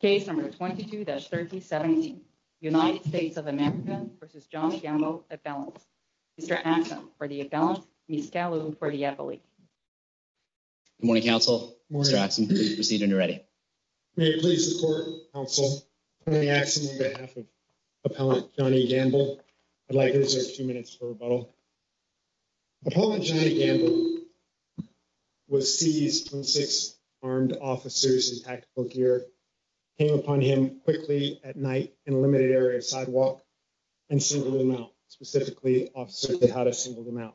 Case number 22-3017, United States of America v. Johnnie Gamble, Appellant. Mr. Axsom, for the Appellant. Ms. Gallo, for the Appellant. Good morning, counsel. Mr. Axsom, please proceed when you're ready. May it please the court, counsel. Tony Axsom on behalf of Appellant Johnnie Gamble. I'd like to reserve 2 minutes for rebuttal. Appellant Johnnie Gamble was seized when 6 armed officers in tactical gear came upon him quickly at night in a limited area of sidewalk and singled him out. Specifically, Officer Tejada singled him out.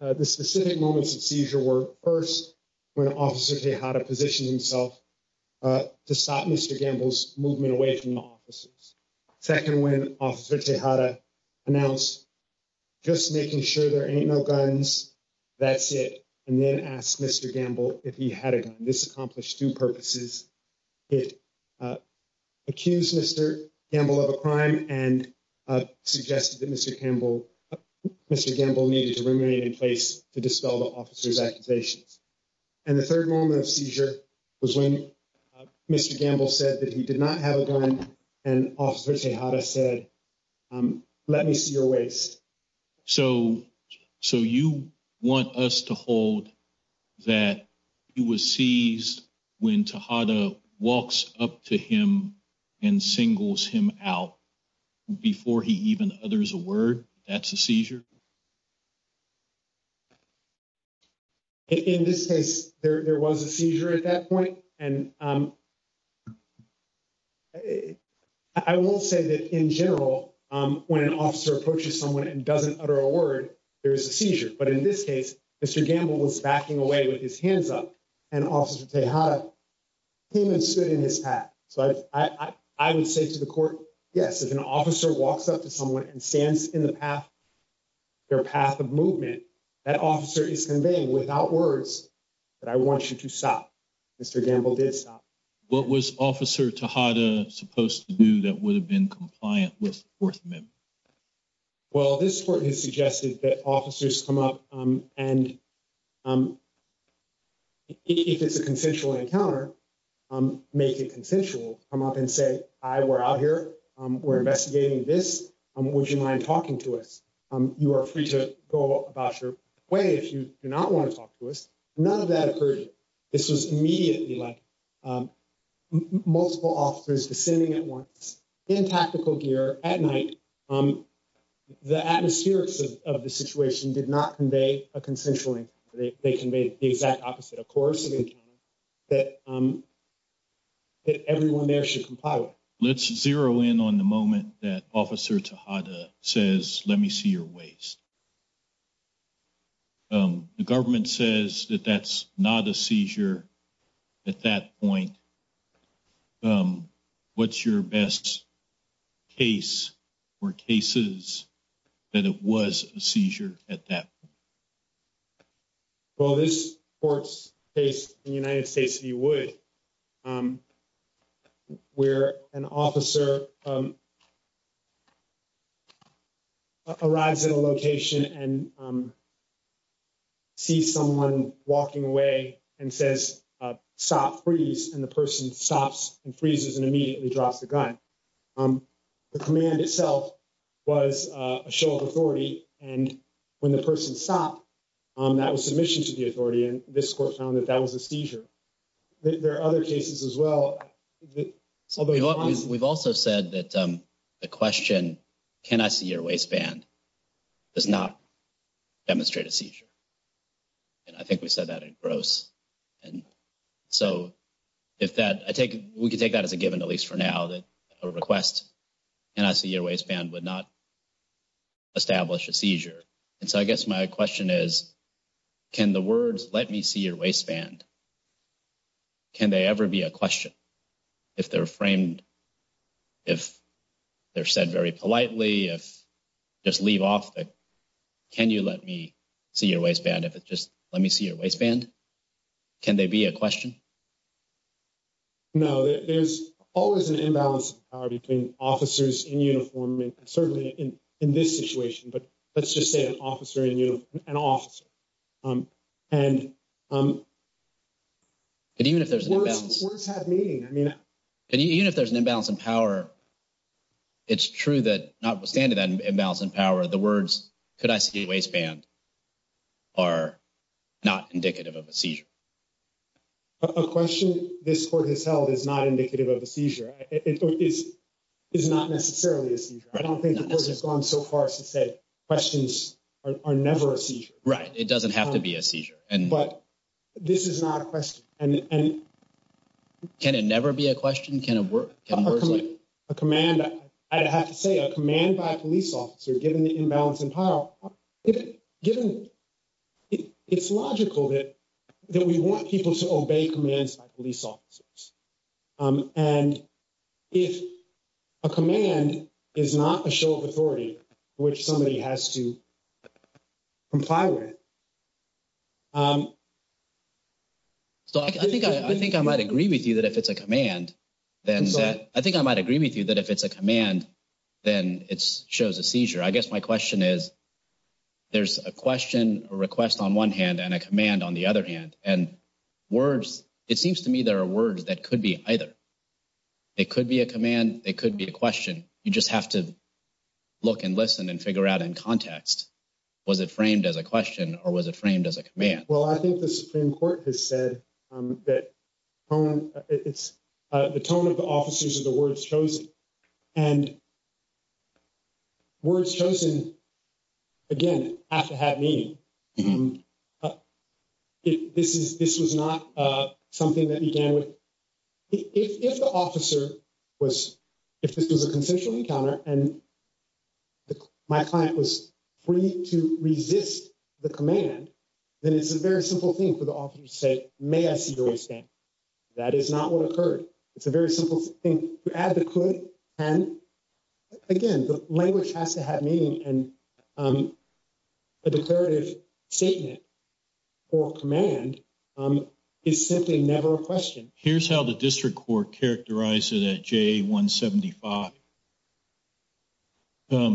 The specific moments of seizure were, first, when Officer Tejada positioned himself to stop Mr. Gamble's movement away from the officers. Second, when Officer Tejada announced, just making sure there ain't no guns, that's it, and then asked Mr. Gamble if he had a gun. This accomplished two purposes. It accused Mr. Gamble of a crime and suggested that Mr. Gamble needed to remain in place to dispel the officer's accusations. And the third moment of seizure was when Mr. Gamble said that he did not have a gun and Officer Tejada said, let me see your waist. So you want us to hold that he was seized when Tejada walks up to him and singles him out before he even utters a word that's a seizure? In this case, there was a seizure at that point. And I will say that in general, when an officer approaches someone and doesn't utter a word, there's a seizure. But in this case, Mr. Gamble was backing away with his hands up and Officer Tejada came and stood in his path. So I would say to the court, yes, if an officer walks up to someone and stands in the path, their path of movement, that officer is conveying without words that I want you to stop. Mr. Gamble did stop. What was Officer Tejada supposed to do that would have been compliant with the Fourth Amendment? Well, this court has suggested that officers come up and if it's a consensual encounter, make it consensual, come up and say, hi, we're out here, we're investigating this. Would you mind talking to us? You are free to go about your way if you do not want to talk to us. None of that occurred. This was immediately like multiple officers descending at once in tactical gear at night. The atmospherics of the situation did not convey a consensual encounter. They conveyed the exact opposite, a coercive encounter that everyone there should comply with. Let's zero in on the moment that Officer Tejada says, let me see your waist. The government says that that's not a seizure at that point. What's your best case or cases that it was a seizure at that? Well, this court's case in the United States, if you would, where an officer arrives at a location and. See someone walking away and says, stop, freeze, and the person stops and freezes and immediately drops the gun. The command itself was a show of authority. And when the person stopped, that was submission to the authority. And this court found that that was a seizure. There are other cases as well. We've also said that the question, can I see your waistband does not demonstrate a seizure. And I think we said that in gross, and so if that I take, we could take that as a given, at least for now that a request. And I see your waistband would not. Establish a seizure. And so I guess my question is, can the words let me see your waistband? Can they ever be a question if they're framed? If they're said very politely, if just leave off, can you let me see your waistband? If it's just let me see your waistband, can they be a question? No, there's always an imbalance between officers in uniform and certainly in this situation, but let's just say an officer in an officer. And. And even if there's words have meaning, I mean, even if there's an imbalance in power. It's true that notwithstanding that imbalance in power, the words, could I see your waistband? Are not indicative of a seizure. A question this court has held is not indicative of a seizure. It is not necessarily a seizure. I don't think it's gone so far as to say questions are never a seizure. Right. It doesn't have to be a seizure. But this is not a question. And can it never be a question? Can it work? A command? I'd have to say a command by a police officer, given the imbalance in power. Given it's logical that that we want people to obey commands by police officers. And if a command is not a show of authority, which somebody has to comply with. So, I think I think I might agree with you that if it's a command, then I think I might agree with you that if it's a command, then it's shows a seizure. I guess my question is. There's a question, a request on one hand and a command on the other hand and words. It seems to me there are words that could be either. It could be a command. It could be a question. You just have to look and listen and figure out in context. Was it framed as a question or was it framed as a command? Well, I think the Supreme Court has said that it's the tone of the officers of the words chosen and. Words chosen again have to have me. This is this was not something that began with. If the officer was, if this was a consensual encounter and. My client was free to resist the command. And then it's a very simple thing for the officer to say, may I see the way stand. That is not what occurred. It's a very simple thing to advocate and. Again, the language has to have meaning and. A declarative statement or command. It's simply never a question. Here's how the district court characterized it at J. 175. And then at J. 175.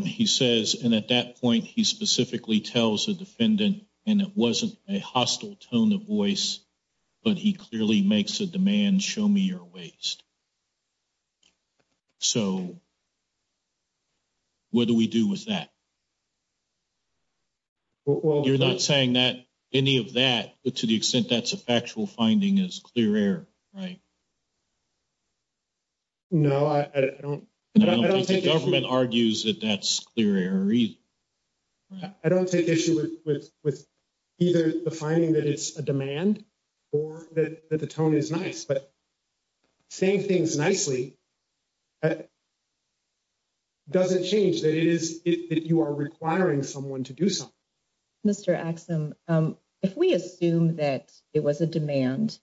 He says, and at that point, he specifically tells the defendant and it wasn't a hostile tone of voice. But he clearly makes a demand show me your waste. So, what do we do with that? Well, you're not saying that any of that, but to the extent that's a factual finding is clear air, right? No, I don't I don't think the government argues that that's clear. I don't take issue with either the finding that it's a demand. Or that the tone is nice, but same things nicely. Does it change that it is that you are requiring someone to do some. Mr. if we assume that it was a demand.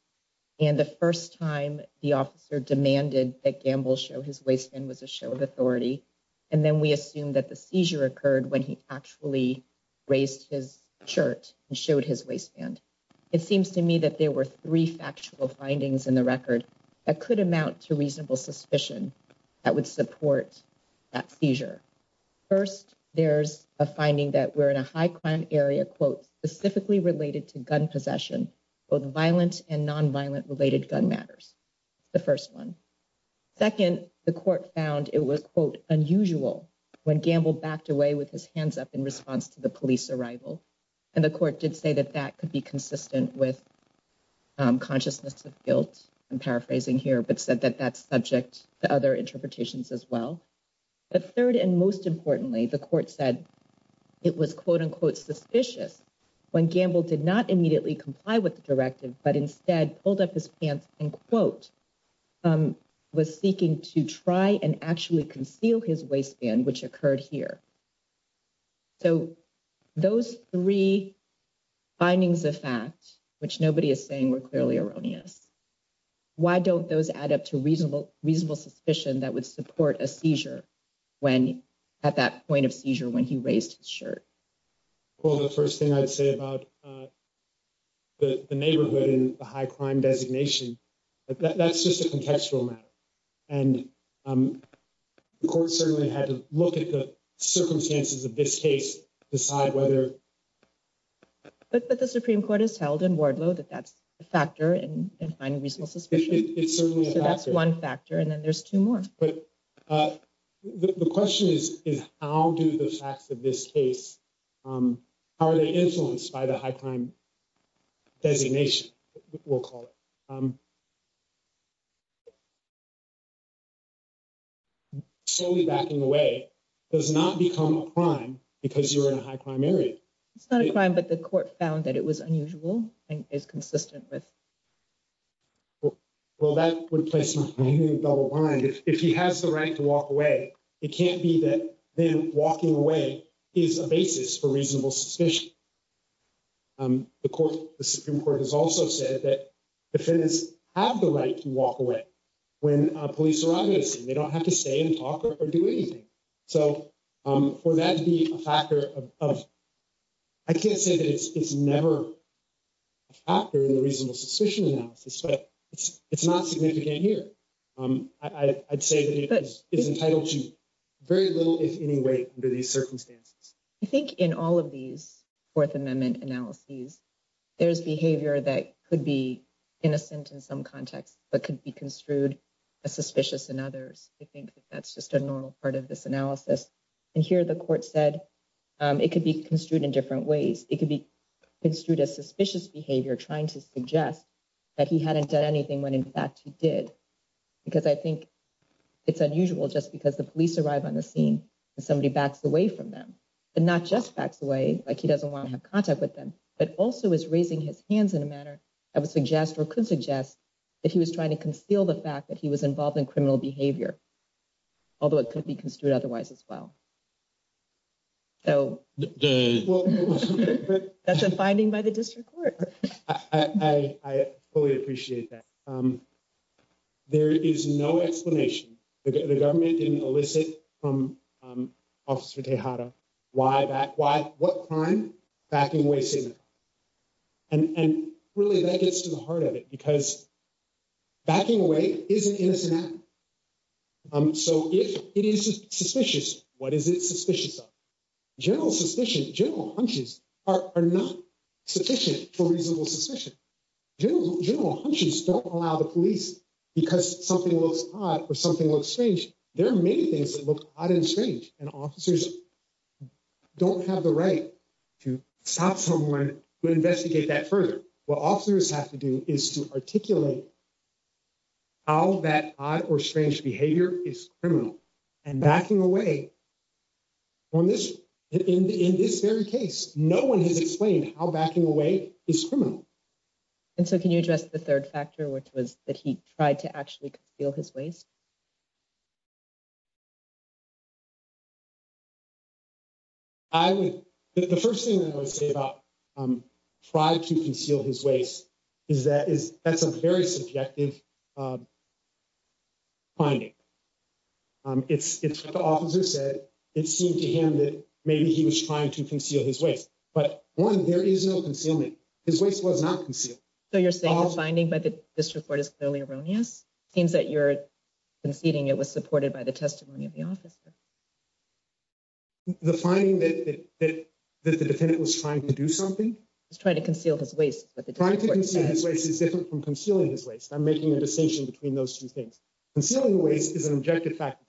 And the 1st time the officer demanded that gamble show his waistband was a show of authority. And then we assume that the seizure occurred when he actually. Raised his shirt and showed his waistband. It seems to me that there were 3 factual findings in the record. That could amount to reasonable suspicion that would support. That seizure 1st, there's a finding that we're in a high crime area quote, specifically related to gun possession. Both violent and nonviolent related gun matters. The 1st, 1, 2nd, the court found it was unusual when gamble backed away with his hands up in response to the police arrival. And the court did say that that could be consistent with consciousness of guilt. I'm paraphrasing here, but said that that's subject to other interpretations as well. The 3rd, and most importantly, the court said it was quote, unquote, suspicious. When gamble did not immediately comply with the directive, but instead pulled up his pants and quote. Was seeking to try and actually conceal his waistband, which occurred here. So, those 3 findings of fact, which nobody is saying we're clearly erroneous. Why don't those add up to reasonable, reasonable suspicion that would support a seizure? When at that point of seizure, when he raised his shirt. Well, the 1st thing I'd say about the neighborhood in the high crime designation. That's just a contextual matter. And of course, certainly had to look at the circumstances of this case decide whether. But the Supreme Court has held in Wardlow that that's a factor and find a reasonable suspicion. It's certainly that's 1 factor and then there's 2 more. But the question is, is how do the facts of this case are they influenced by the high time designation? We'll call it. Slowly backing away does not become a crime because you're in a high primary. It's not a crime, but the court found that it was unusual and is consistent with. Well, that would place my mind if he has the right to walk away. It can't be that then walking away is a basis for reasonable suspicion. The Supreme Court has also said that defendants have the right to walk away. When police arrive, they don't have to stay and talk or do anything. So, for that to be a factor of. I can't say that it's never. After the reasonable suspicion analysis, but it's not significant here. I'd say that is entitled to very little, if any way, under these circumstances. I think in all of these 4th Amendment analyses, there's behavior that could be innocent in some context, but could be construed as suspicious in others. I think that's just a normal part of this analysis. And here the court said it could be construed in different ways. It could be construed as suspicious behavior, trying to suggest that he hadn't done anything when, in fact, he did. Because I think it's unusual just because the police arrive on the scene and somebody backs away from them and not just backs away. Like, he doesn't want to have contact with them, but also is raising his hands in a manner. I would suggest or could suggest that he was trying to conceal the fact that he was involved in criminal behavior. Although it could be construed otherwise as well. So that's a finding by the district court. I fully appreciate that. There is no explanation. The government didn't elicit from Officer Tejada. Why that? Why? What crime? Backing away signal. And really that gets to the heart of it because backing away is an innocent act. So if it is suspicious, what is it suspicious of? General suspicion, general hunches are not sufficient for reasonable suspicion. General hunches don't allow the police because something looks odd or something looks strange. There are many things that look odd and strange and officers don't have the right to stop someone to investigate that further. What officers have to do is to articulate. All that odd or strange behavior is criminal. And backing away on this in this very case, no one has explained how backing away is criminal. And so can you address the third factor, which was that he tried to actually feel his ways? I would the first thing that I would say about trying to conceal his ways is that is that's a very subjective. Finding it's the officer said it seemed to him that maybe he was trying to conceal his ways, but one, there is no concealing his ways was not concealing. So you're saying the finding by the district court is clearly erroneous. Seems that you're conceding it was supported by the testimony of the officer. The finding that the defendant was trying to do something is trying to conceal his ways. Trying to conceal his ways is different from concealing his ways. I'm making a decision between those two things. Concealing ways is an objective fact.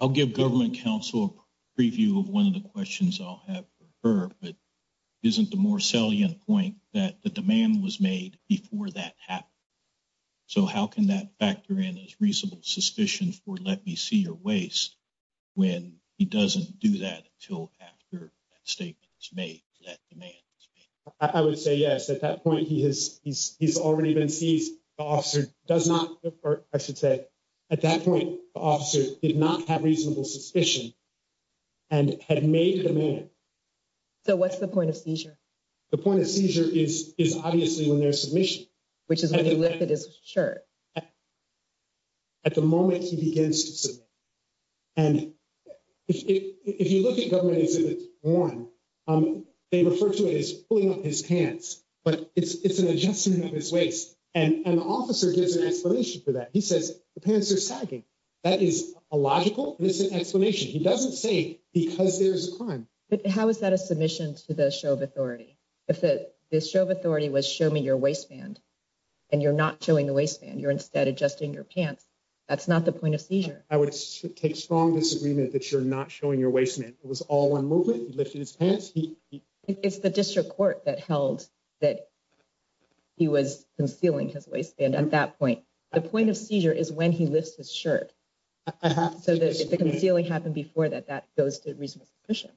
I'll give government counsel preview of one of the questions I'll have for her, but isn't the more salient point that the demand was made before that happened. So how can that factor in as reasonable suspicions for? Let me see your waste? When he doesn't do that until after statements made that demand. I would say, yes, at that point, he has, he's, he's already been seized. The officer does not, or I should say, at that point, the officer did not have reasonable suspicion. And had made the man. So, what's the point of seizure? The point of seizure is, is obviously when there's submission, which is when you lift it is shirt. At the moment, he begins to submit. And if you look at government exhibit one, they refer to it as pulling up his pants, but it's an adjustment of his waist. And the officer gives an explanation for that. He says the pants are sagging. That is a logical explanation. He doesn't say, because there's a crime. How is that a submission to the show of authority? If the show of authority was show me your waistband, and you're not showing the waistband, you're instead adjusting your pants. That's not the point of seizure. I would take strong disagreement that you're not showing your waist. It was all one movement. He lifted his pants. It's the district court that held that. He was concealing his waistband at that point. The point of seizure is when he lifts his shirt. If the concealing happened before that, that goes to reasonable submission.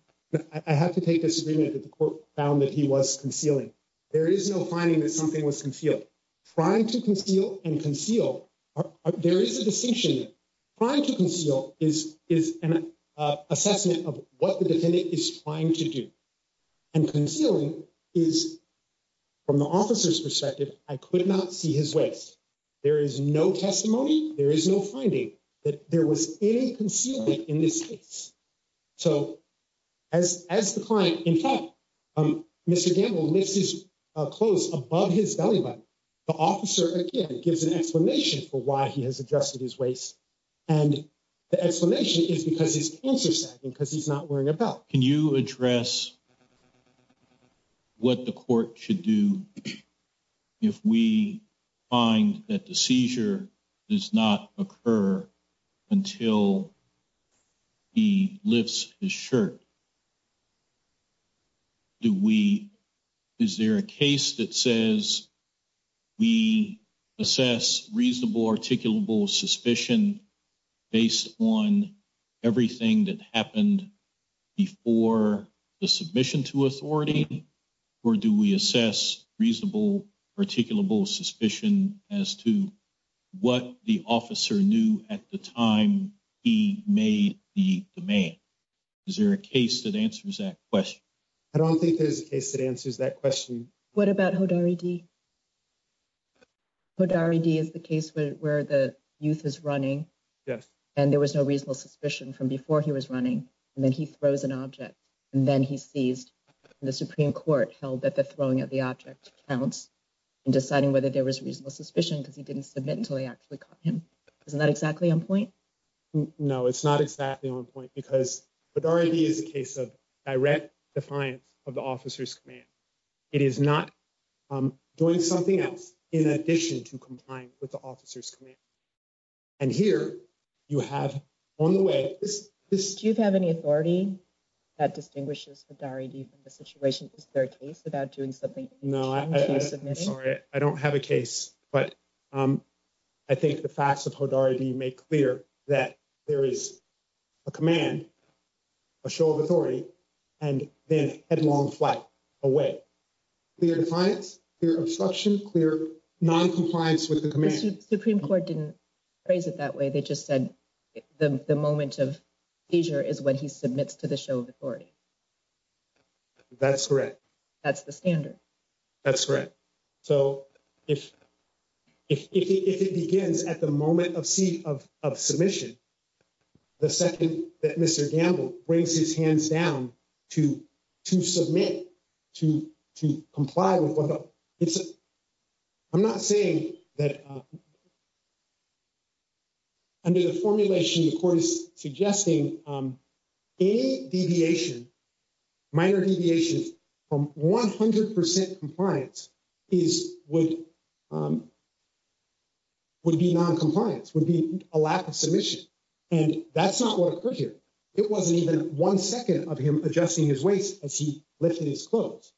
I have to take this agreement that the court found that he was concealing. There is no finding that something was concealed trying to conceal and conceal. There is a distinction trying to conceal is is an assessment of what the defendant is trying to do. And concealing is from the officer's perspective. I could not see his waist. There is no testimony. There is no finding that there was any concealing in this case. So as as the client, in fact, Mr. Gamble, Mrs. Close above his belly button. The officer gives an explanation for why he has adjusted his waist. And the explanation is because it's because he's not wearing a belt. Can you address what the court should do if we find that the seizure does not occur until. He lifts his shirt. Do we. Is there a case that says we assess reasonable, articulable suspicion based on everything that happened before the submission to authority? Or do we assess reasonable, articulable suspicion as to what the officer knew at the time he made the demand? Is there a case that answers that question? I don't think there's a case that answers that question. What about who already? What already is the case where the youth is running? Yes. And there was no reasonable suspicion from before he was running. And then he throws an object and then he seized the Supreme Court held that the throwing of the object counts. And deciding whether there was reasonable suspicion because he didn't submit until he actually caught him. Isn't that exactly on point? No, it's not exactly on point because it already is a case of direct defiance of the officer's command. It is not doing something else in addition to complying with the officer's command. And here you have on the way, do you have any authority that distinguishes with the situation? Is there a case about doing something? No, I'm sorry. I don't have a case, but I think the facts of Hodority make clear that there is a command. A show of authority and then headlong flight away. Clear defiance, clear obstruction, clear noncompliance with the Supreme Court didn't phrase it that way. They just said the moment of leisure is when he submits to the show of authority. That's correct. That's the standard. That's correct. So, if it begins at the moment of seat of submission. The second that Mr. Gamble brings his hands down to submit to comply with. I'm not saying that. Under the formulation, the court is suggesting a deviation. Minor deviations from 100% compliance is would. Would be noncompliance would be a lack of submission. And that's not what occurred here. It wasn't even one second of him adjusting his waist as he lifted his clothes.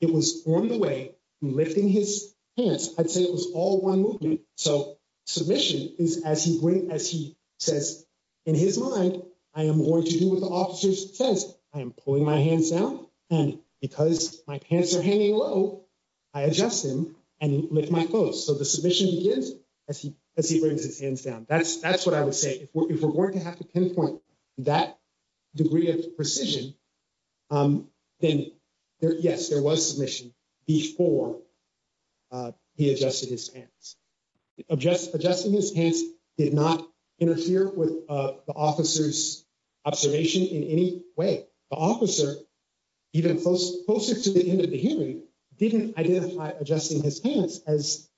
It was on the way, lifting his hands. I'd say it was all one movement. So, submission is as he says in his mind, I am going to do what the officers says. I am pulling my hands down and because my pants are hanging low, I adjust them and lift my clothes. So, the submission begins as he brings his hands down. That's what I would say. If we're going to have to pinpoint that degree of precision, then yes, there was submission before he adjusted his pants. Adjusting his pants did not interfere with the officer's observation in any way. The officer, even closer to the end of the hearing, didn't identify adjusting his pants as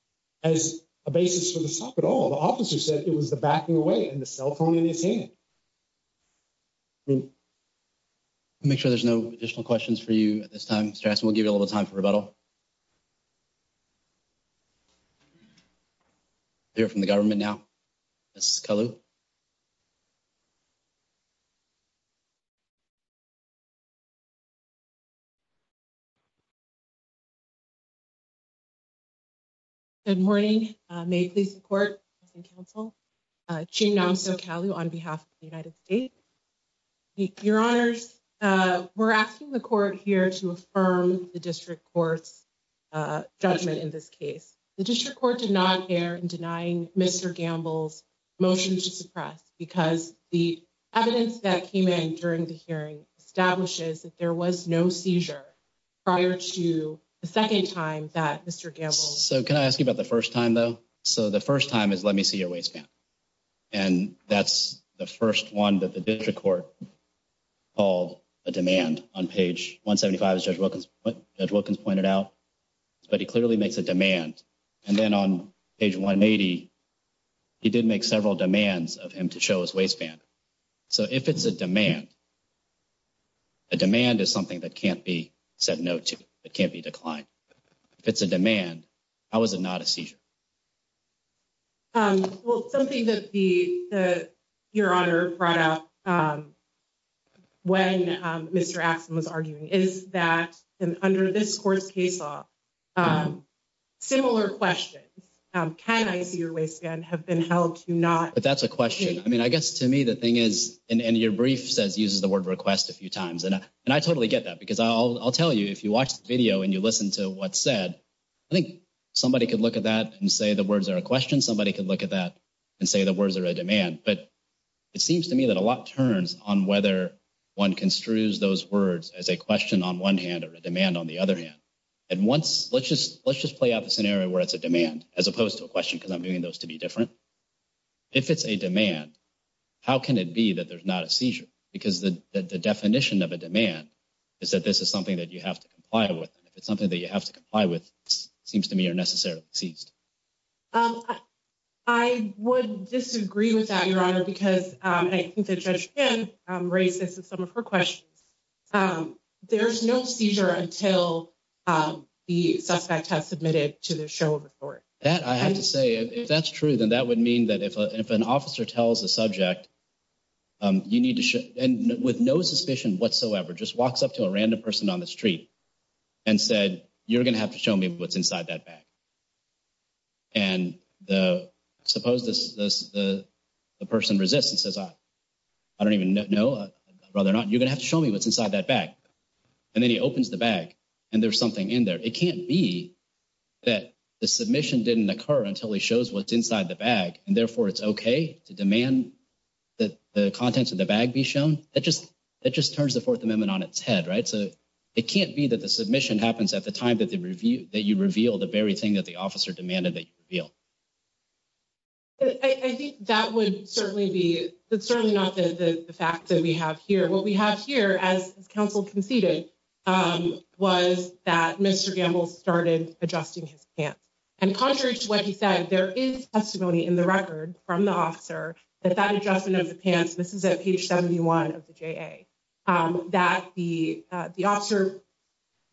a basis for the stop at all. The officer said it was the backing away and the cell phone in his hand. Make sure there's no additional questions for you at this time. We'll give you a little time for rebuttal. You're from the government now. Good morning. May please support council on behalf of the United States. Your honors, we're asking the court here to affirm the district court's judgment in this case. The district court did not care in denying Mr. Gamble's motion to suppress because the evidence that came in during the hearing establishes that there was no seizure prior to the second time that Mr. Gamble. So can I ask you about the first time, though? So the first time is let me see your waistband. And that's the first one that the district court called a demand on page 175. Judge Wilkins pointed out, but he clearly makes a demand. And then on page 180, he did make several demands of him to show his waistband. So if it's a demand. A demand is something that can't be said no to. It can't be declined if it's a demand. How is it not a seizure? Well, something that the your honor brought up when Mr. Axon was arguing is that under this court's case, similar questions. Can I see your waistband have been held to not? But that's a question. I mean, I guess to me, the thing is, and your brief says uses the word request a few times. And I totally get that because I'll tell you, if you watch the video and you listen to what's said, I think somebody could look at that and say the words are a question. Somebody could look at that and say the words are a demand. But it seems to me that a lot turns on whether one construes those words as a question on one hand or a demand on the other hand. And once let's just let's just play out the scenario where it's a demand as opposed to a question, because I'm doing those to be different. If it's a demand, how can it be that there's not a seizure? Because the definition of a demand is that this is something that you have to comply with. And if it's something that you have to comply with, it seems to me you're necessarily seized. I would disagree with that, your honor, because I think the judge can raise this and some of her questions. There's no seizure until the suspect has submitted to the show of the court. That I have to say, if that's true, then that would mean that if an officer tells the subject. You need to and with no suspicion whatsoever, just walks up to a random person on the street and said, you're going to have to show me what's inside that bag. And the suppose the person resists and says, I don't even know whether or not you're going to have to show me what's inside that bag. And then he opens the bag and there's something in there. It can't be that the submission didn't occur until he shows what's inside the bag. And therefore, it's OK to demand that the contents of the bag be shown that just that just turns the Fourth Amendment on its head. Right. So it can't be that the submission happens at the time that the review that you reveal the very thing that the officer demanded that you feel. I think that would certainly be certainly not the fact that we have here, what we have here as counsel conceded was that Mr. Gamble started adjusting his pants and contrary to what he said, there is testimony in the record from the officer that that adjustment of the pants. This is at page seventy one of the J.A. that the the officer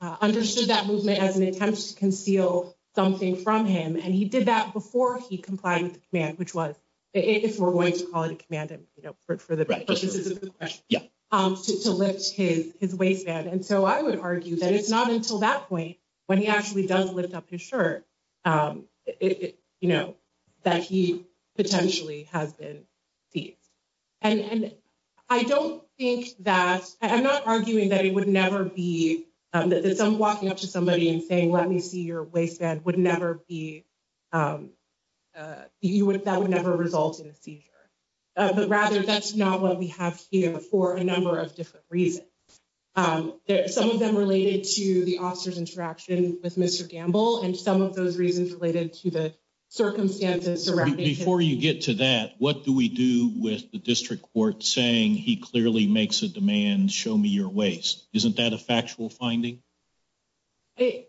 understood that movement as an attempt to conceal something from him. And he did that before he complied with the man, which was if we're going to call it a command for the right to lift his his waistband. And so I would argue that it's not until that point when he actually does lift up his shirt, you know, that he potentially has been beat. And I don't think that I'm not arguing that it would never be that some walking up to somebody and saying, let me see your waistband would never be. You would that would never result in a seizure. But rather, that's not what we have here for a number of different reasons. Some of them related to the officer's interaction with Mr. Gamble and some of those reasons related to the circumstances surrounding. Before you get to that, what do we do with the district court saying he clearly makes a demand? Show me your waist. Isn't that a factual finding? I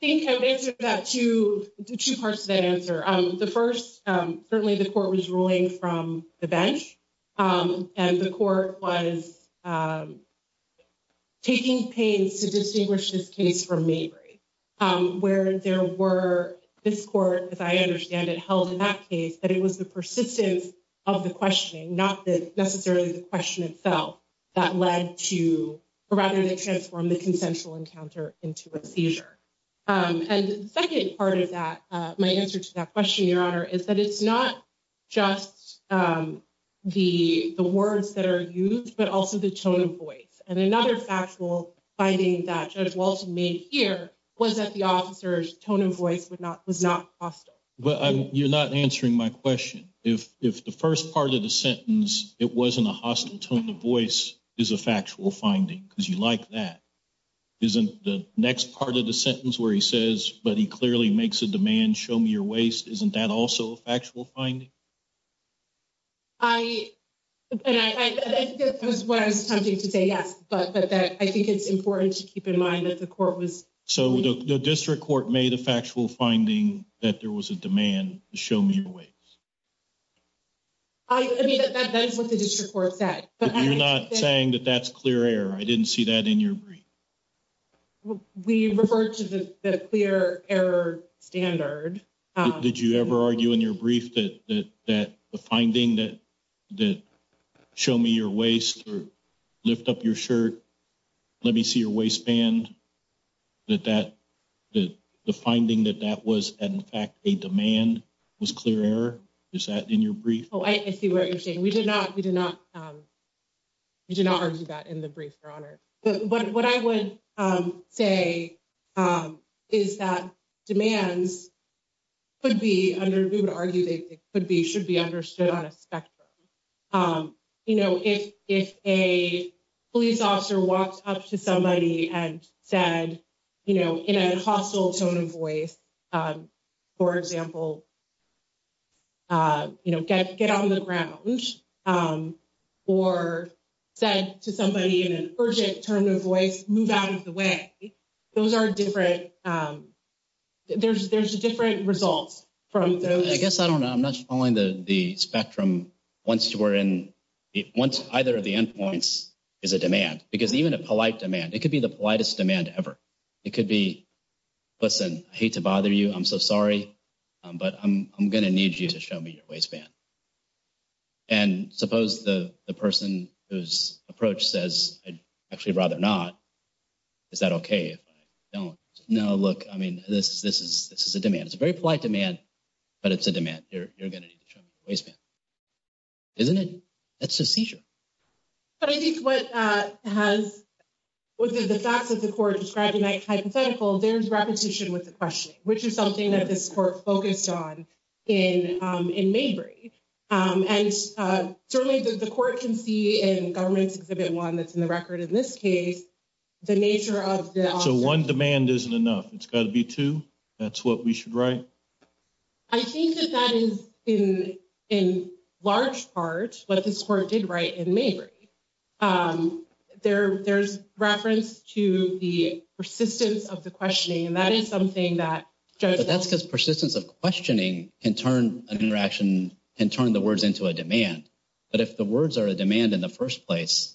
think I've answered that to two parts of the answer. The first, certainly the court was ruling from the bench and the court was taking pains to distinguish this case from me, where there were this court, as I understand it, held in that case that it was the persistence of the questioning, not necessarily the question itself that led to rather than transform the consensual encounter into a seizure. And the second part of that, my answer to that question, Your Honor, is that it's not just the words that are used, but also the tone of voice. And another factual finding that Judge Walton made here was that the officer's tone of voice would not was not hostile. But you're not answering my question. If if the first part of the sentence, it wasn't a hostile tone of voice is a factual finding because you like that. Isn't the next part of the sentence where he says, but he clearly makes a demand, show me your waist. Isn't that also a factual finding? I was tempted to say yes, but I think it's important to keep in mind that the court was. So the district court made a factual finding that there was a demand to show me your waist. I mean, that's what the district court said, but you're not saying that that's clear error. I didn't see that in your brief. We refer to the clear error standard. Did you ever argue in your brief that that the finding that that show me your waist or lift up your shirt? Let me see your waistband. That that the finding that that was, in fact, a demand was clear error. Is that in your brief? Oh, I see what you're saying. We did not. We did not. You did not argue that in the brief, your honor. But what I would say is that demands. Could be under argued it could be should be understood on a spectrum. You know, if if a police officer walks up to somebody and said, you know, in a hostile tone of voice, for example. You know, get get on the ground or said to somebody in an urgent tone of voice, move out of the way. Those are different. There's there's different results from those. I guess I don't know. I'm not following the spectrum. Once you were in it, once either of the endpoints is a demand, because even a polite demand, it could be the politest demand ever. It could be. Listen, I hate to bother you. I'm so sorry, but I'm going to need you to show me your waistband. And suppose the person whose approach says, I'd actually rather not. Is that OK? Don't know. Look, I mean, this is this is this is a demand. It's a very polite demand, but it's a demand. You're going to need to show me your waistband. Isn't it? That's a seizure. But I think what has within the facts of the court describing hypothetical, there's repetition with the question, which is something that this court focused on in in Maybury. And certainly the court can see in government's exhibit one that's in the record in this case, the nature of the one demand isn't enough. It's got to be, too. That's what we should write. I think that that is in in large part what this court did right in Maybury there. There's reference to the persistence of the questioning, and that is something that that's because persistence of questioning can turn an interaction and turn the words into a demand. But if the words are a demand in the first place,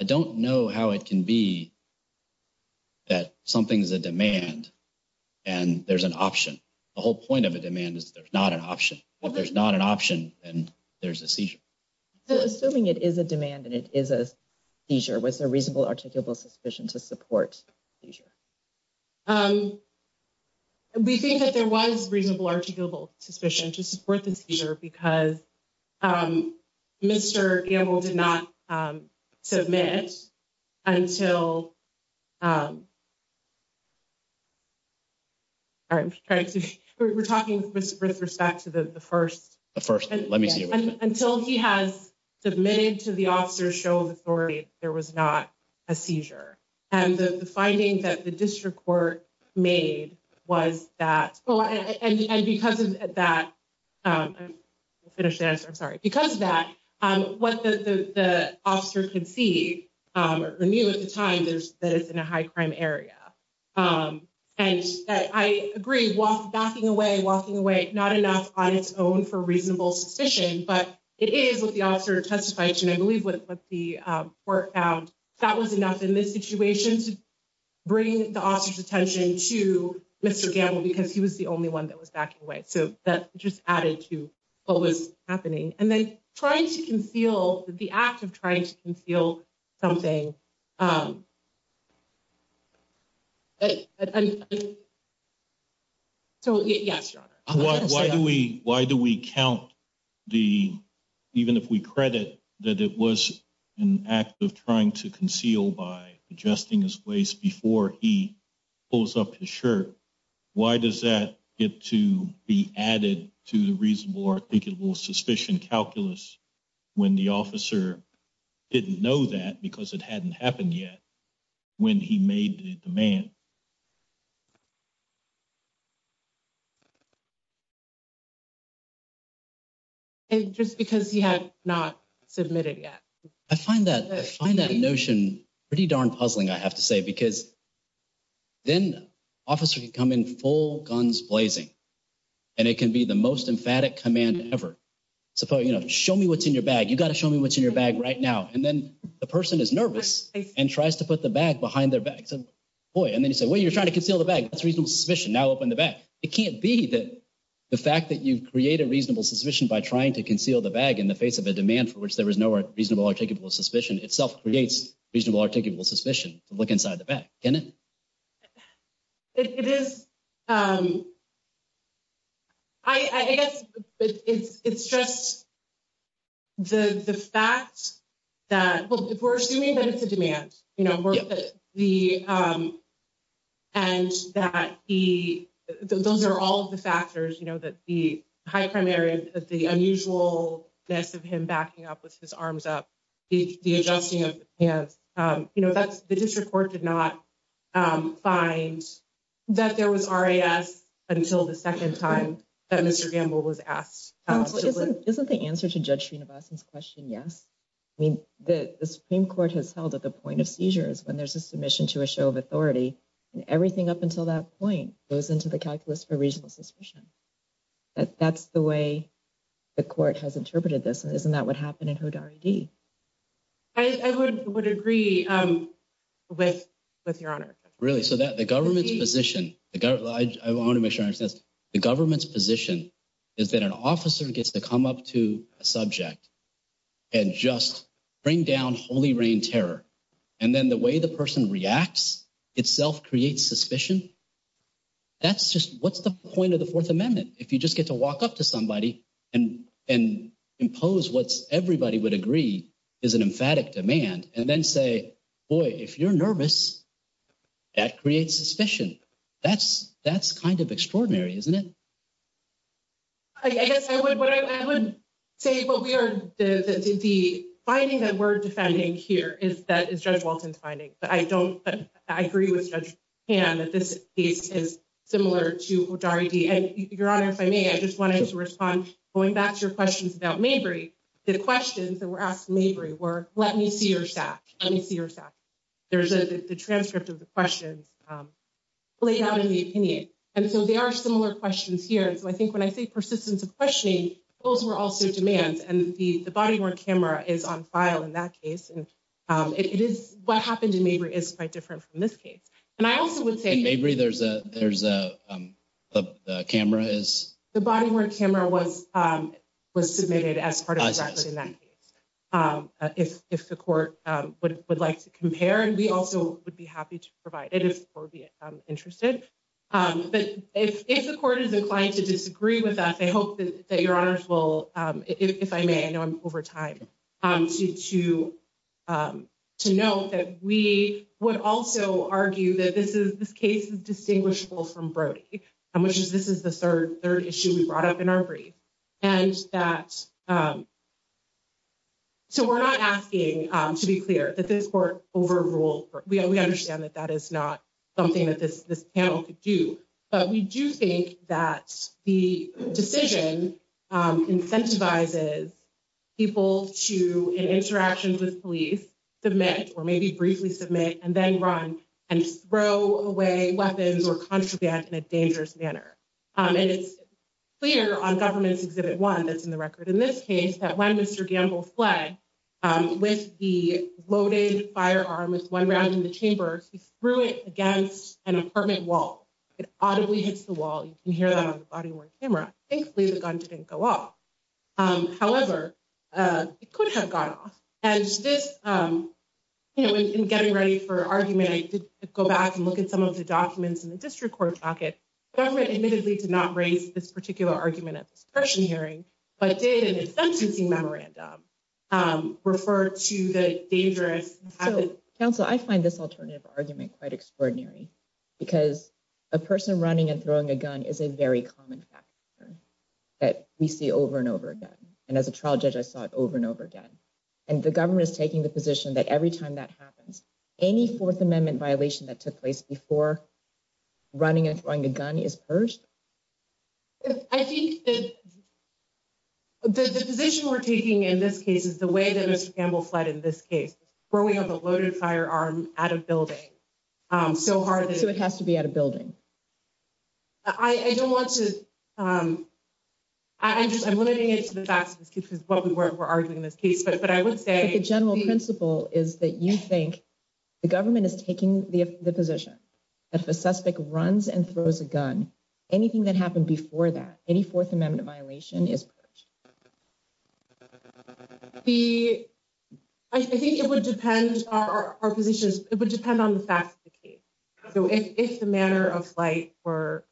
I don't know how it can be. That something is a demand and there's an option, the whole point of a demand is there's not an option, but there's not an option and there's a seizure. Assuming it is a demand and it is a seizure, was there reasonable articulable suspicion to support seizure? We think that there was reasonable articulable suspicion to support the seizure because Mr. Campbell did not submit until. All right, we're talking with respect to the first first, let me see until he has submitted to the officer's show of authority. There was not a seizure and the finding that the district court made was that. And because of that, I'm sorry, because of that, what the officer can see or knew at the time, there's that it's in a high crime area. And I agree walking away, walking away, not enough on its own for reasonable suspicion, but it is what the officer testifies. And I believe what the court found that was enough in this situation to bring the officer's attention to Mr. Campbell, because he was the only one that was backing away. So that just added to what was happening and then trying to conceal the act of trying to conceal something. So, yes. Why do we why do we count the even if we credit that it was an act of trying to conceal by adjusting his place before he pulls up his shirt? Why does that get to be added to the reasonable articulable suspicion calculus when the officer didn't know that because it hadn't happened yet? When he made the man. And just because he had not submitted yet, I find that I find that a notion pretty darn puzzling, I have to say, because then officer can come in full guns blazing and it can be the most emphatic command ever. Show me what's in your bag, you got to show me what's in your bag right now. And then the person is nervous and tries to put the bag behind their back. So, boy, and then you say, well, you're trying to conceal the bag. That's reasonable suspicion. Now, open the bag. It can't be that the fact that you create a reasonable suspicion by trying to conceal the bag in the face of a demand for which there is no reasonable articulable suspicion itself creates reasonable articulable suspicion. Look inside the bag. It is. I guess it's just. The fact that we're assuming that it's a demand, you know, the. And that he those are all of the factors, you know, that the high primary, the unusual mess of him backing up with his arms up the adjusting of. Yes, you know, that's the district court did not find that there was until the second time that Mr. Gamble was asked. Isn't the answer to judging about this question? Yes. I mean, the Supreme Court has held at the point of seizures when there's a submission to a show of authority and everything up until that point goes into the calculus for reasonable suspicion. That's the way the court has interpreted this and isn't that what happened in. I would agree with with your honor really so that the government's position, I want to make sure the government's position is that an officer gets to come up to a subject and just bring down holy reign terror. And then the way the person reacts itself creates suspicion. That's just what's the point of the 4th amendment? If you just get to walk up to somebody and and impose what's everybody would agree is an emphatic demand and then say, boy, if you're nervous. That creates suspicion. That's that's kind of extraordinary, isn't it? I guess I would, I would say, but we are the finding that we're defending here is that is judge Walton's finding, but I don't I agree with judge and that this is similar to and your honor. If I may, I just wanted to respond going back to your questions about the questions that were asked me where let me see your stack. Let me see your stack. There's a transcript of the questions laid out in the opinion. And so they are similar questions here. And so I think when I say persistence of questioning, those were also demands and the body camera is on file in that case. And it is what happened to me is quite different from this case. And I also would say maybe there's a there's a camera is the body where camera was was submitted as part of that. If the court would like to compare, and we also would be happy to provide it is interested. But if the court is inclined to disagree with that, they hope that your honors will, if I may, I know I'm over time to to to note that we would also argue that this is this case is distinguishable from Brody, which is this is the third third issue we brought up in our brief. And that so we're not asking to be clear that this court overrule. We understand that that is not something that this this panel could do. But we do think that the decision incentivizes people to interactions with police submit, or maybe briefly submit and then run and throw away weapons or contraband in a dangerous manner. And it's clear on government's exhibit one that's in the record in this case that when Mr gamble flag with the loaded firearm with one round in the chamber, he threw it against an apartment wall. It audibly hits the wall. You can hear that on the body camera. Thankfully, the gun didn't go off. However, it could have gone off and this, you know, in getting ready for argument, go back and look at some of the documents in the district court pocket admittedly to not raise this particular argument at this hearing. Refer to the dangerous council, I find this alternative argument quite extraordinary because a person running and throwing a gun is a very common factor that we see over and over again. And as a trial judge, I saw it over and over again, and the government is taking the position that every time that happens, any fourth amendment violation that took place before running and throwing the gun is first. I think that the position we're taking in this case is the way that Mr gamble fled in this case, where we have a loaded firearm at a building. So, it has to be at a building. I don't want to I'm just I'm limiting it to the facts because what we were arguing in this case, but I would say the general principle is that you think the government is taking the position. If a suspect runs and throws a gun, anything that happened before that any fourth amendment violation is the, I think it would depend on our positions. It would depend on the facts of the case. If the manner of flight or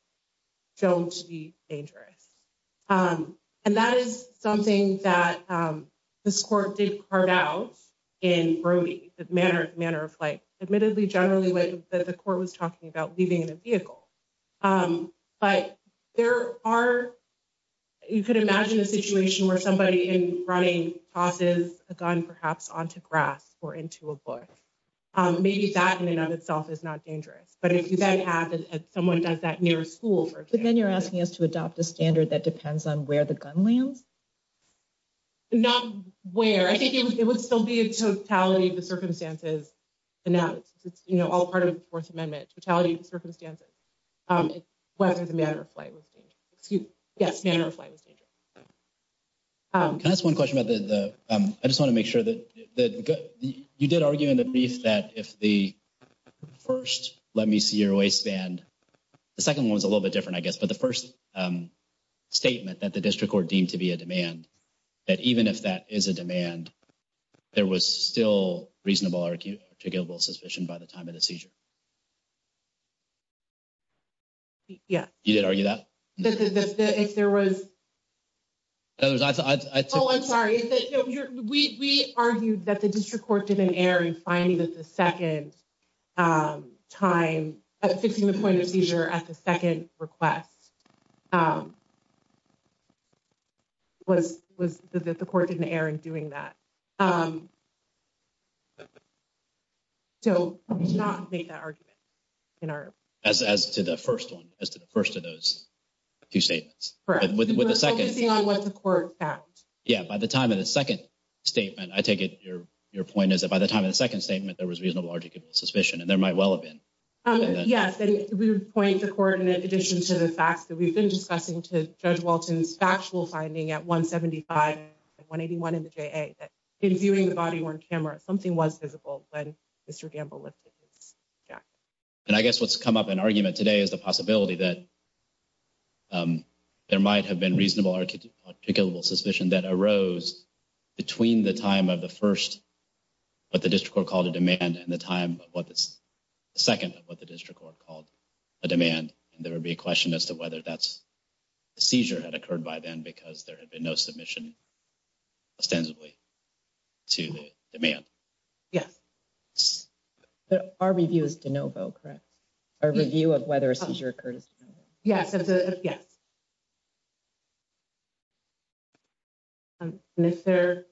don't be dangerous. And that is something that this court did carve out in Brody manner of manner of flight admittedly generally way that the court was talking about leaving the vehicle. But there are. You could imagine a situation where somebody in running tosses a gun, perhaps onto grass or into a book. Maybe that in and of itself is not dangerous, but if you then have someone does that near school, but then you're asking us to adopt a standard that depends on where the gun lands. Not where I think it would still be a totality of the circumstances. And now it's, you know, all part of the 4th amendment totality circumstances. Whether the manner of flight was excuse yes, manner of flight was dangerous. Can I ask 1 question about the, I just want to make sure that you did argue in the brief that if the. 1st, let me see your waistband. The 2nd was a little bit different, I guess, but the 1st. Statement that the district or deemed to be a demand. That even if that is a demand, there was still reasonable to give a suspicion by the time of the seizure. Yeah, you did argue that if there was. I'm sorry, we argued that the district court didn't air and finding that the 2nd. Time fixing the point of seizure at the 2nd request. Was was that the court didn't Aaron doing that? So, not make that argument. In our as, as to the 1st, 1 as to the 1st of those. 2 statements with the 2nd on what the court. Yeah, by the time of the 2nd statement, I take it. Your point is that by the time of the 2nd statement, there was reasonable to give suspicion and there might well have been. Yes, and we would point the coordinate addition to the facts that we've been discussing to judge Walton's factual finding at 175. 181 in the in viewing the body on camera. Something was visible when. Yeah, and I guess what's come up in argument today is the possibility that. There might have been reasonable articulable suspicion that arose. Between the time of the 1st, but the district court called a demand and the time of what this. 2nd, what the district court called a demand and there would be a question as to whether that's. Seizure had occurred by then, because there had been no submission. Substantively to the demand. Yes, but our review is to know about correct. Our review of whether a seizure occurred is yes. And if there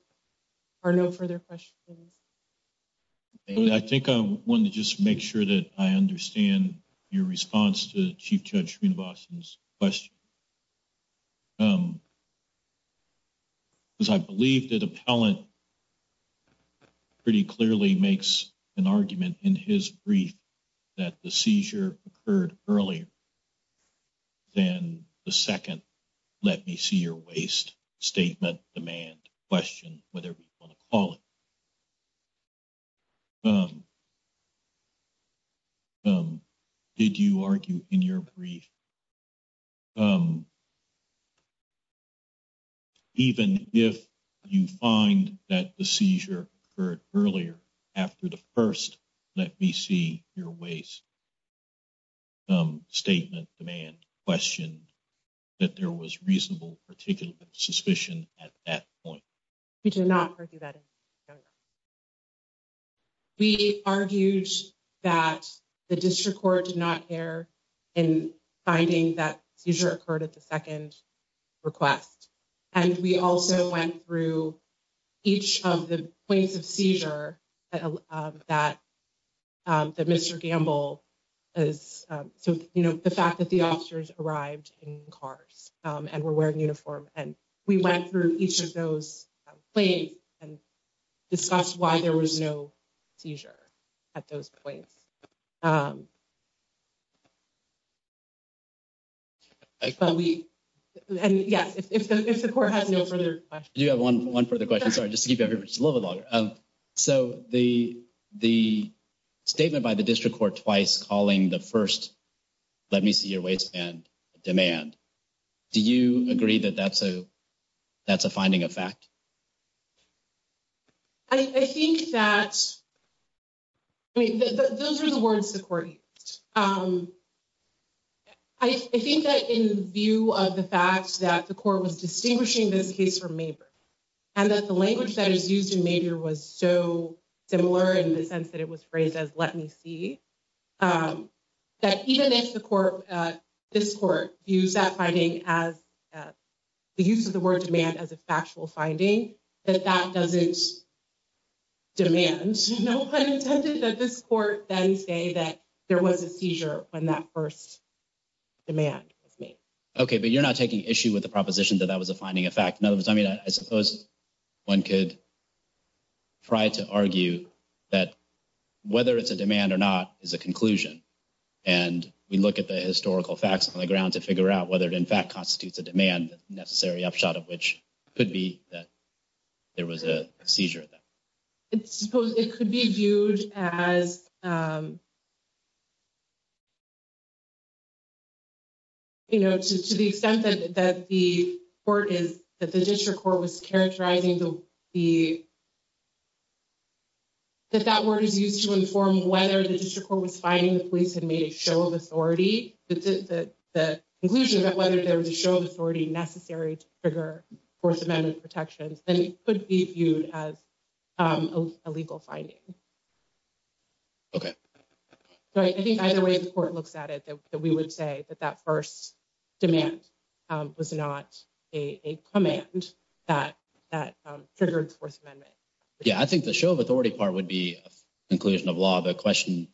are no further questions. I think I want to just make sure that I understand. Your response to the chief judge in Boston's question. Because I believe that appellant. Pretty clearly makes an argument in his brief. That the seizure occurred earlier than the 2nd. Let me see your waste statement demand question, whether we want to call it. Did you argue in your brief? Even if you find that the seizure for earlier. After the 1st, let me see your waste. Statement demand question. That there was reasonable particular suspicion at that point. We did not argue that we argued. That the district court did not care. And finding that seizure occurred at the 2nd. Request, and we also went through. Each of the points of seizure that. That Mr. Gamble. So, you know, the fact that the officers arrived in cars and we're wearing uniform and we went through each of those. And discuss why there was no seizure. At those points. But we, and yeah, if the court has no further questions, you have 11 for the question. Sorry, just to give you a little bit longer. So, the, the statement by the district court twice calling the 1st. Let me see your waste and demand. Do you agree that that's a that's a finding of fact. I think that. I mean, those are the words supporting. I think that in view of the facts that the court was distinguishing this case for me. And that the language that is used in major was so similar in the sense that it was phrased as, let me see. That even if the court, this court use that finding as. The use of the word demand as a factual finding that that doesn't. Demand that this court then say that there was a seizure when that 1st. Demand with me. Okay, but you're not taking issue with the proposition that that was a finding of fact. In other words, I mean, I suppose. 1 could try to argue that. Whether it's a demand or not is a conclusion. And we look at the historical facts on the ground to figure out whether it, in fact, constitutes a demand necessary upshot of which. Could be that there was a seizure. It's supposed it could be viewed as. You know, to the extent that the court is that the district court was characterizing the. That that word is used to inform whether the district court was finding the police had made a show of authority that the conclusion that whether there was a show of authority necessary to trigger 4th amendment protections, then it could be viewed as. A legal finding. Okay, I think either way the court looks at it that we would say that that 1st. Demand was not a command. That that triggered 4th amendment. Yeah, I think the show of authority part would be a conclusion of law. The question.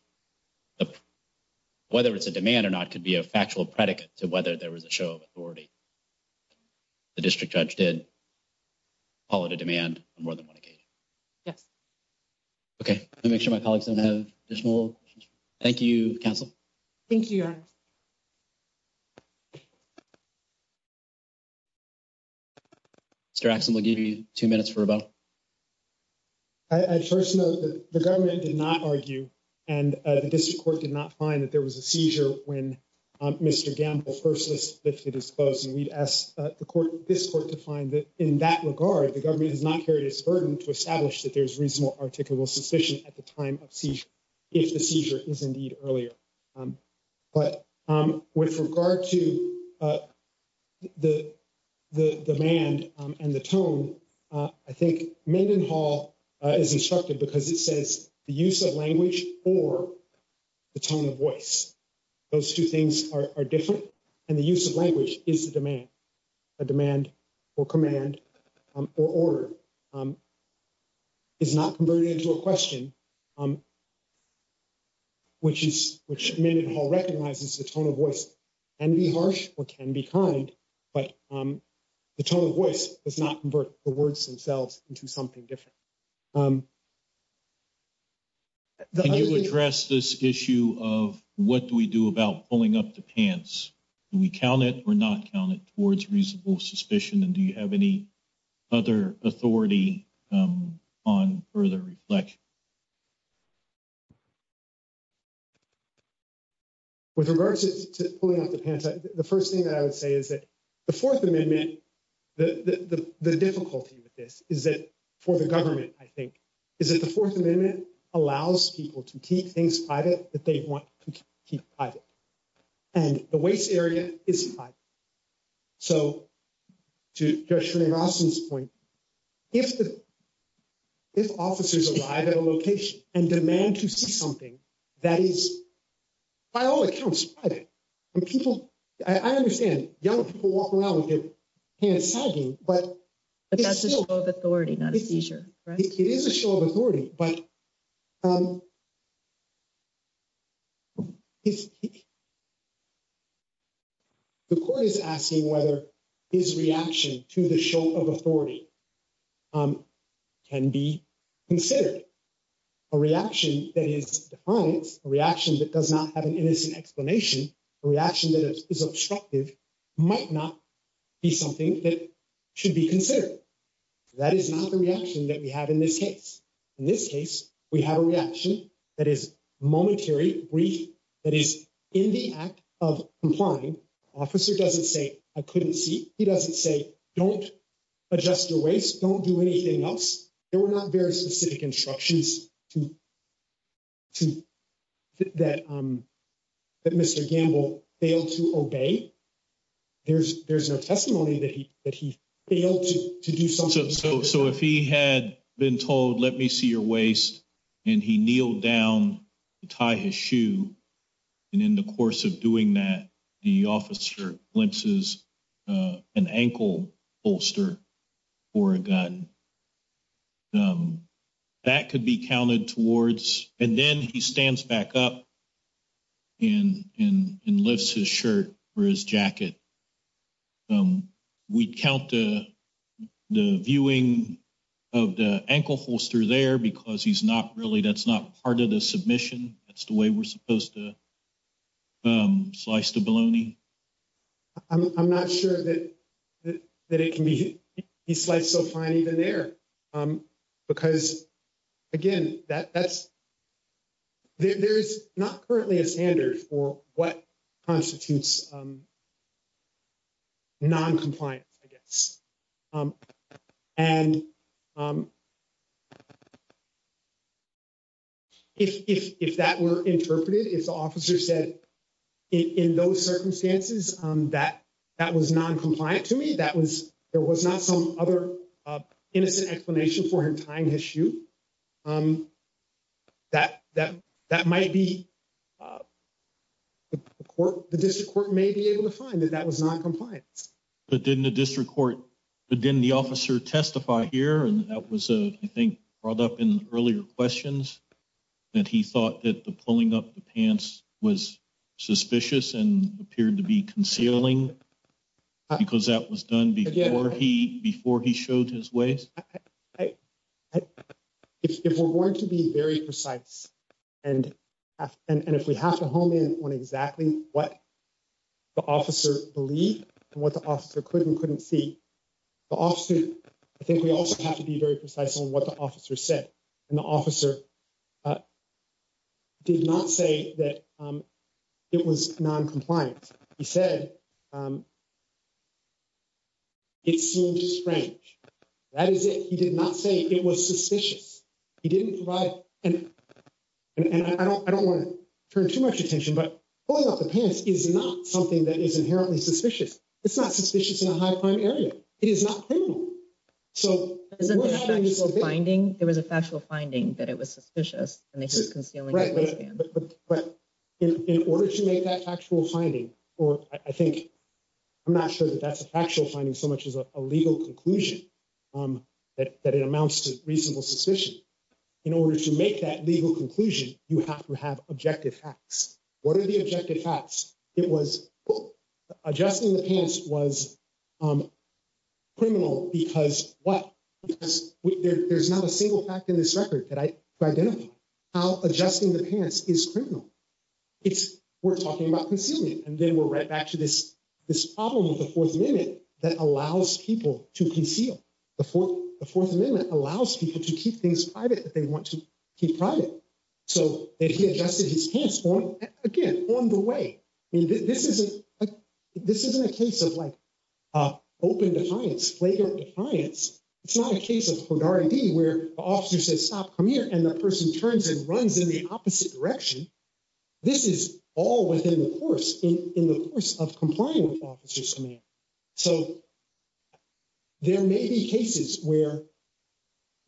Whether it's a demand or not could be a factual predicate to whether there was a show of authority. The district judge did call it a demand more than 1 occasion. Yes, okay. Let me make sure my colleagues don't have additional. Thank you counsel. Thank you. 2 minutes for about. I first know that the government did not argue and the district court did not find that there was a seizure when. Mr gamble versus lifted his clothes and we'd ask the court this court to find that in that regard, the government has not carried his burden to establish that there's reasonable articulable suspicion at the time of. If the seizure is indeed earlier, but with regard to. The, the demand and the tone. I think Mendenhall is instructed because it says the use of language or. The tone of voice, those 2 things are different and the use of language is the demand. A demand or command or order. Is not converted into a question. Which is, which Mendenhall recognizes the tone of voice. And be harsh or can be kind, but. The tone of voice does not convert the words themselves into something different. You address this issue of what do we do about pulling up the pants? We count it or not count it towards reasonable suspicion and do you have any. Other authority on further reflect. With regards to pulling up the pants, the 1st thing that I would say is that the 4th amendment. The, the, the, the difficulty with this is that for the government, I think. Is it the 4th amendment allows people to keep things private that they want to. And the waste area is. So, to your point. If the, if officers arrive at a location and demand to see something. That is by all accounts. And people, I understand young people walk around and get. But that's a show of authority, not a seizure, right? It is a show of authority, but. Is. The court is asking whether his reaction to the show of authority. Can be considered. A reaction that is a reaction that does not have an innocent explanation reaction that is obstructive. Might not be something that should be considered. That is not the reaction that we have in this case. In this case, we have a reaction that is momentary brief. That is in the act of applying officer doesn't say I couldn't see. He doesn't say don't. Adjust your waste don't do anything else. There were not very specific instructions to. To that. That Mr gamble failed to obey. There's there's no testimony that he that he failed to do so. So if he had been told, let me see your waist. And he kneeled down to tie his shoe. And in the course of doing that, the officer glimpses. An ankle bolster or a gun. That could be counted towards and then he stands back up. And lifts his shirt or his jacket. We count the viewing. Of the ankle holster there, because he's not really that's not part of the submission. That's the way we're supposed to. Slice the baloney I'm not sure that. That it can be sliced so fine even there. Because again, that that's. There's not currently a standard for what. Constitutes noncompliance, I guess. And if that were interpreted, if the officer said. In those circumstances, that that was noncompliant to me. That was there was not some other innocent explanation for her time issue. That that that might be. The court, the district court may be able to find that that was noncompliance. But didn't the district court, but then the officer testify here and that was a, I think, brought up in earlier questions. And he thought that the pulling up the pants was. Suspicious and appeared to be concealing. Because that was done before he before he showed his ways. If we're going to be very precise. And, and if we have to hone in on exactly what. The officer believe what the officer couldn't couldn't see. The officer, I think we also have to be very precise on what the officer said. And the officer did not say that. It was noncompliant. He said. It's strange. That is it he did not say it was suspicious. He didn't provide, and I don't, I don't want to turn too much attention, but pulling up the pants is not something that is inherently suspicious. It's not suspicious in a high crime area. It is not. So, finding there was a factual finding that it was suspicious and this is concealing. Right. But. In order to make that factual finding, or I think. I'm not sure that that's a factual finding so much as a legal conclusion. Um, that it amounts to reasonable suspicion. In order to make that legal conclusion, you have to have objective facts. What are the objective facts it was adjusting the pants was. Criminal, because what there's not a single fact in this record that I identify. How adjusting the pants is criminal. It's. We're talking about concealing and then we're right back to this, this problem with the 4th amendment that allows people to conceal. The 4th, the 4th amendment allows people to keep things private that they want to keep private. So, if he adjusted his pants on again on the way. This isn't this isn't a case of, like. Open defiance later defiance. It's not a case of where the officer says, stop, come here and the person turns and runs in the opposite direction. This is all within the course in the course of complying with officers. So, there may be cases where.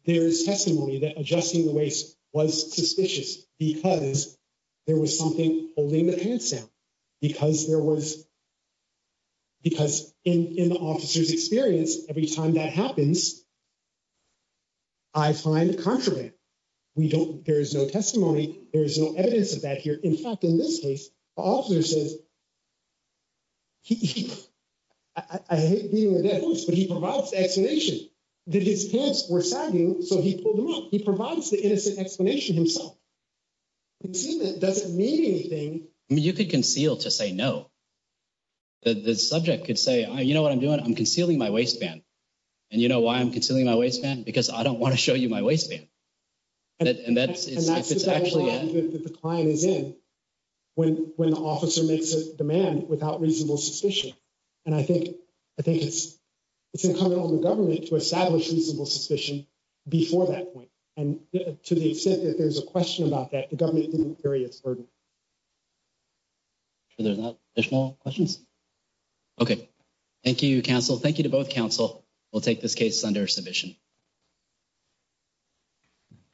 There is testimony that adjusting the waste was suspicious because. There was something holding the pants down because there was. Because in the officer's experience, every time that happens. I find the contraband. We don't there is no testimony. There is no evidence of that here. In fact, in this case, the officer says. I hate being a dead horse, but he provides the explanation that his pants were sagging. So he pulled them up. He provides the innocent explanation himself. It doesn't mean anything. You could conceal to say no. The subject could say, you know what I'm doing? I'm concealing my waistband. And, you know, why I'm considering my waistband because I don't want to show you my waistband. And that's if it's actually the client is in. When when the officer makes a demand without reasonable suspicion. And I think I think it's, it's incumbent on the government to establish reasonable suspicion. Before that point, and to the extent that there's a question about that, the government didn't carry its burden. So, there's no questions. Okay. Thank you. Council. Thank you to both council. We'll take this case under submission.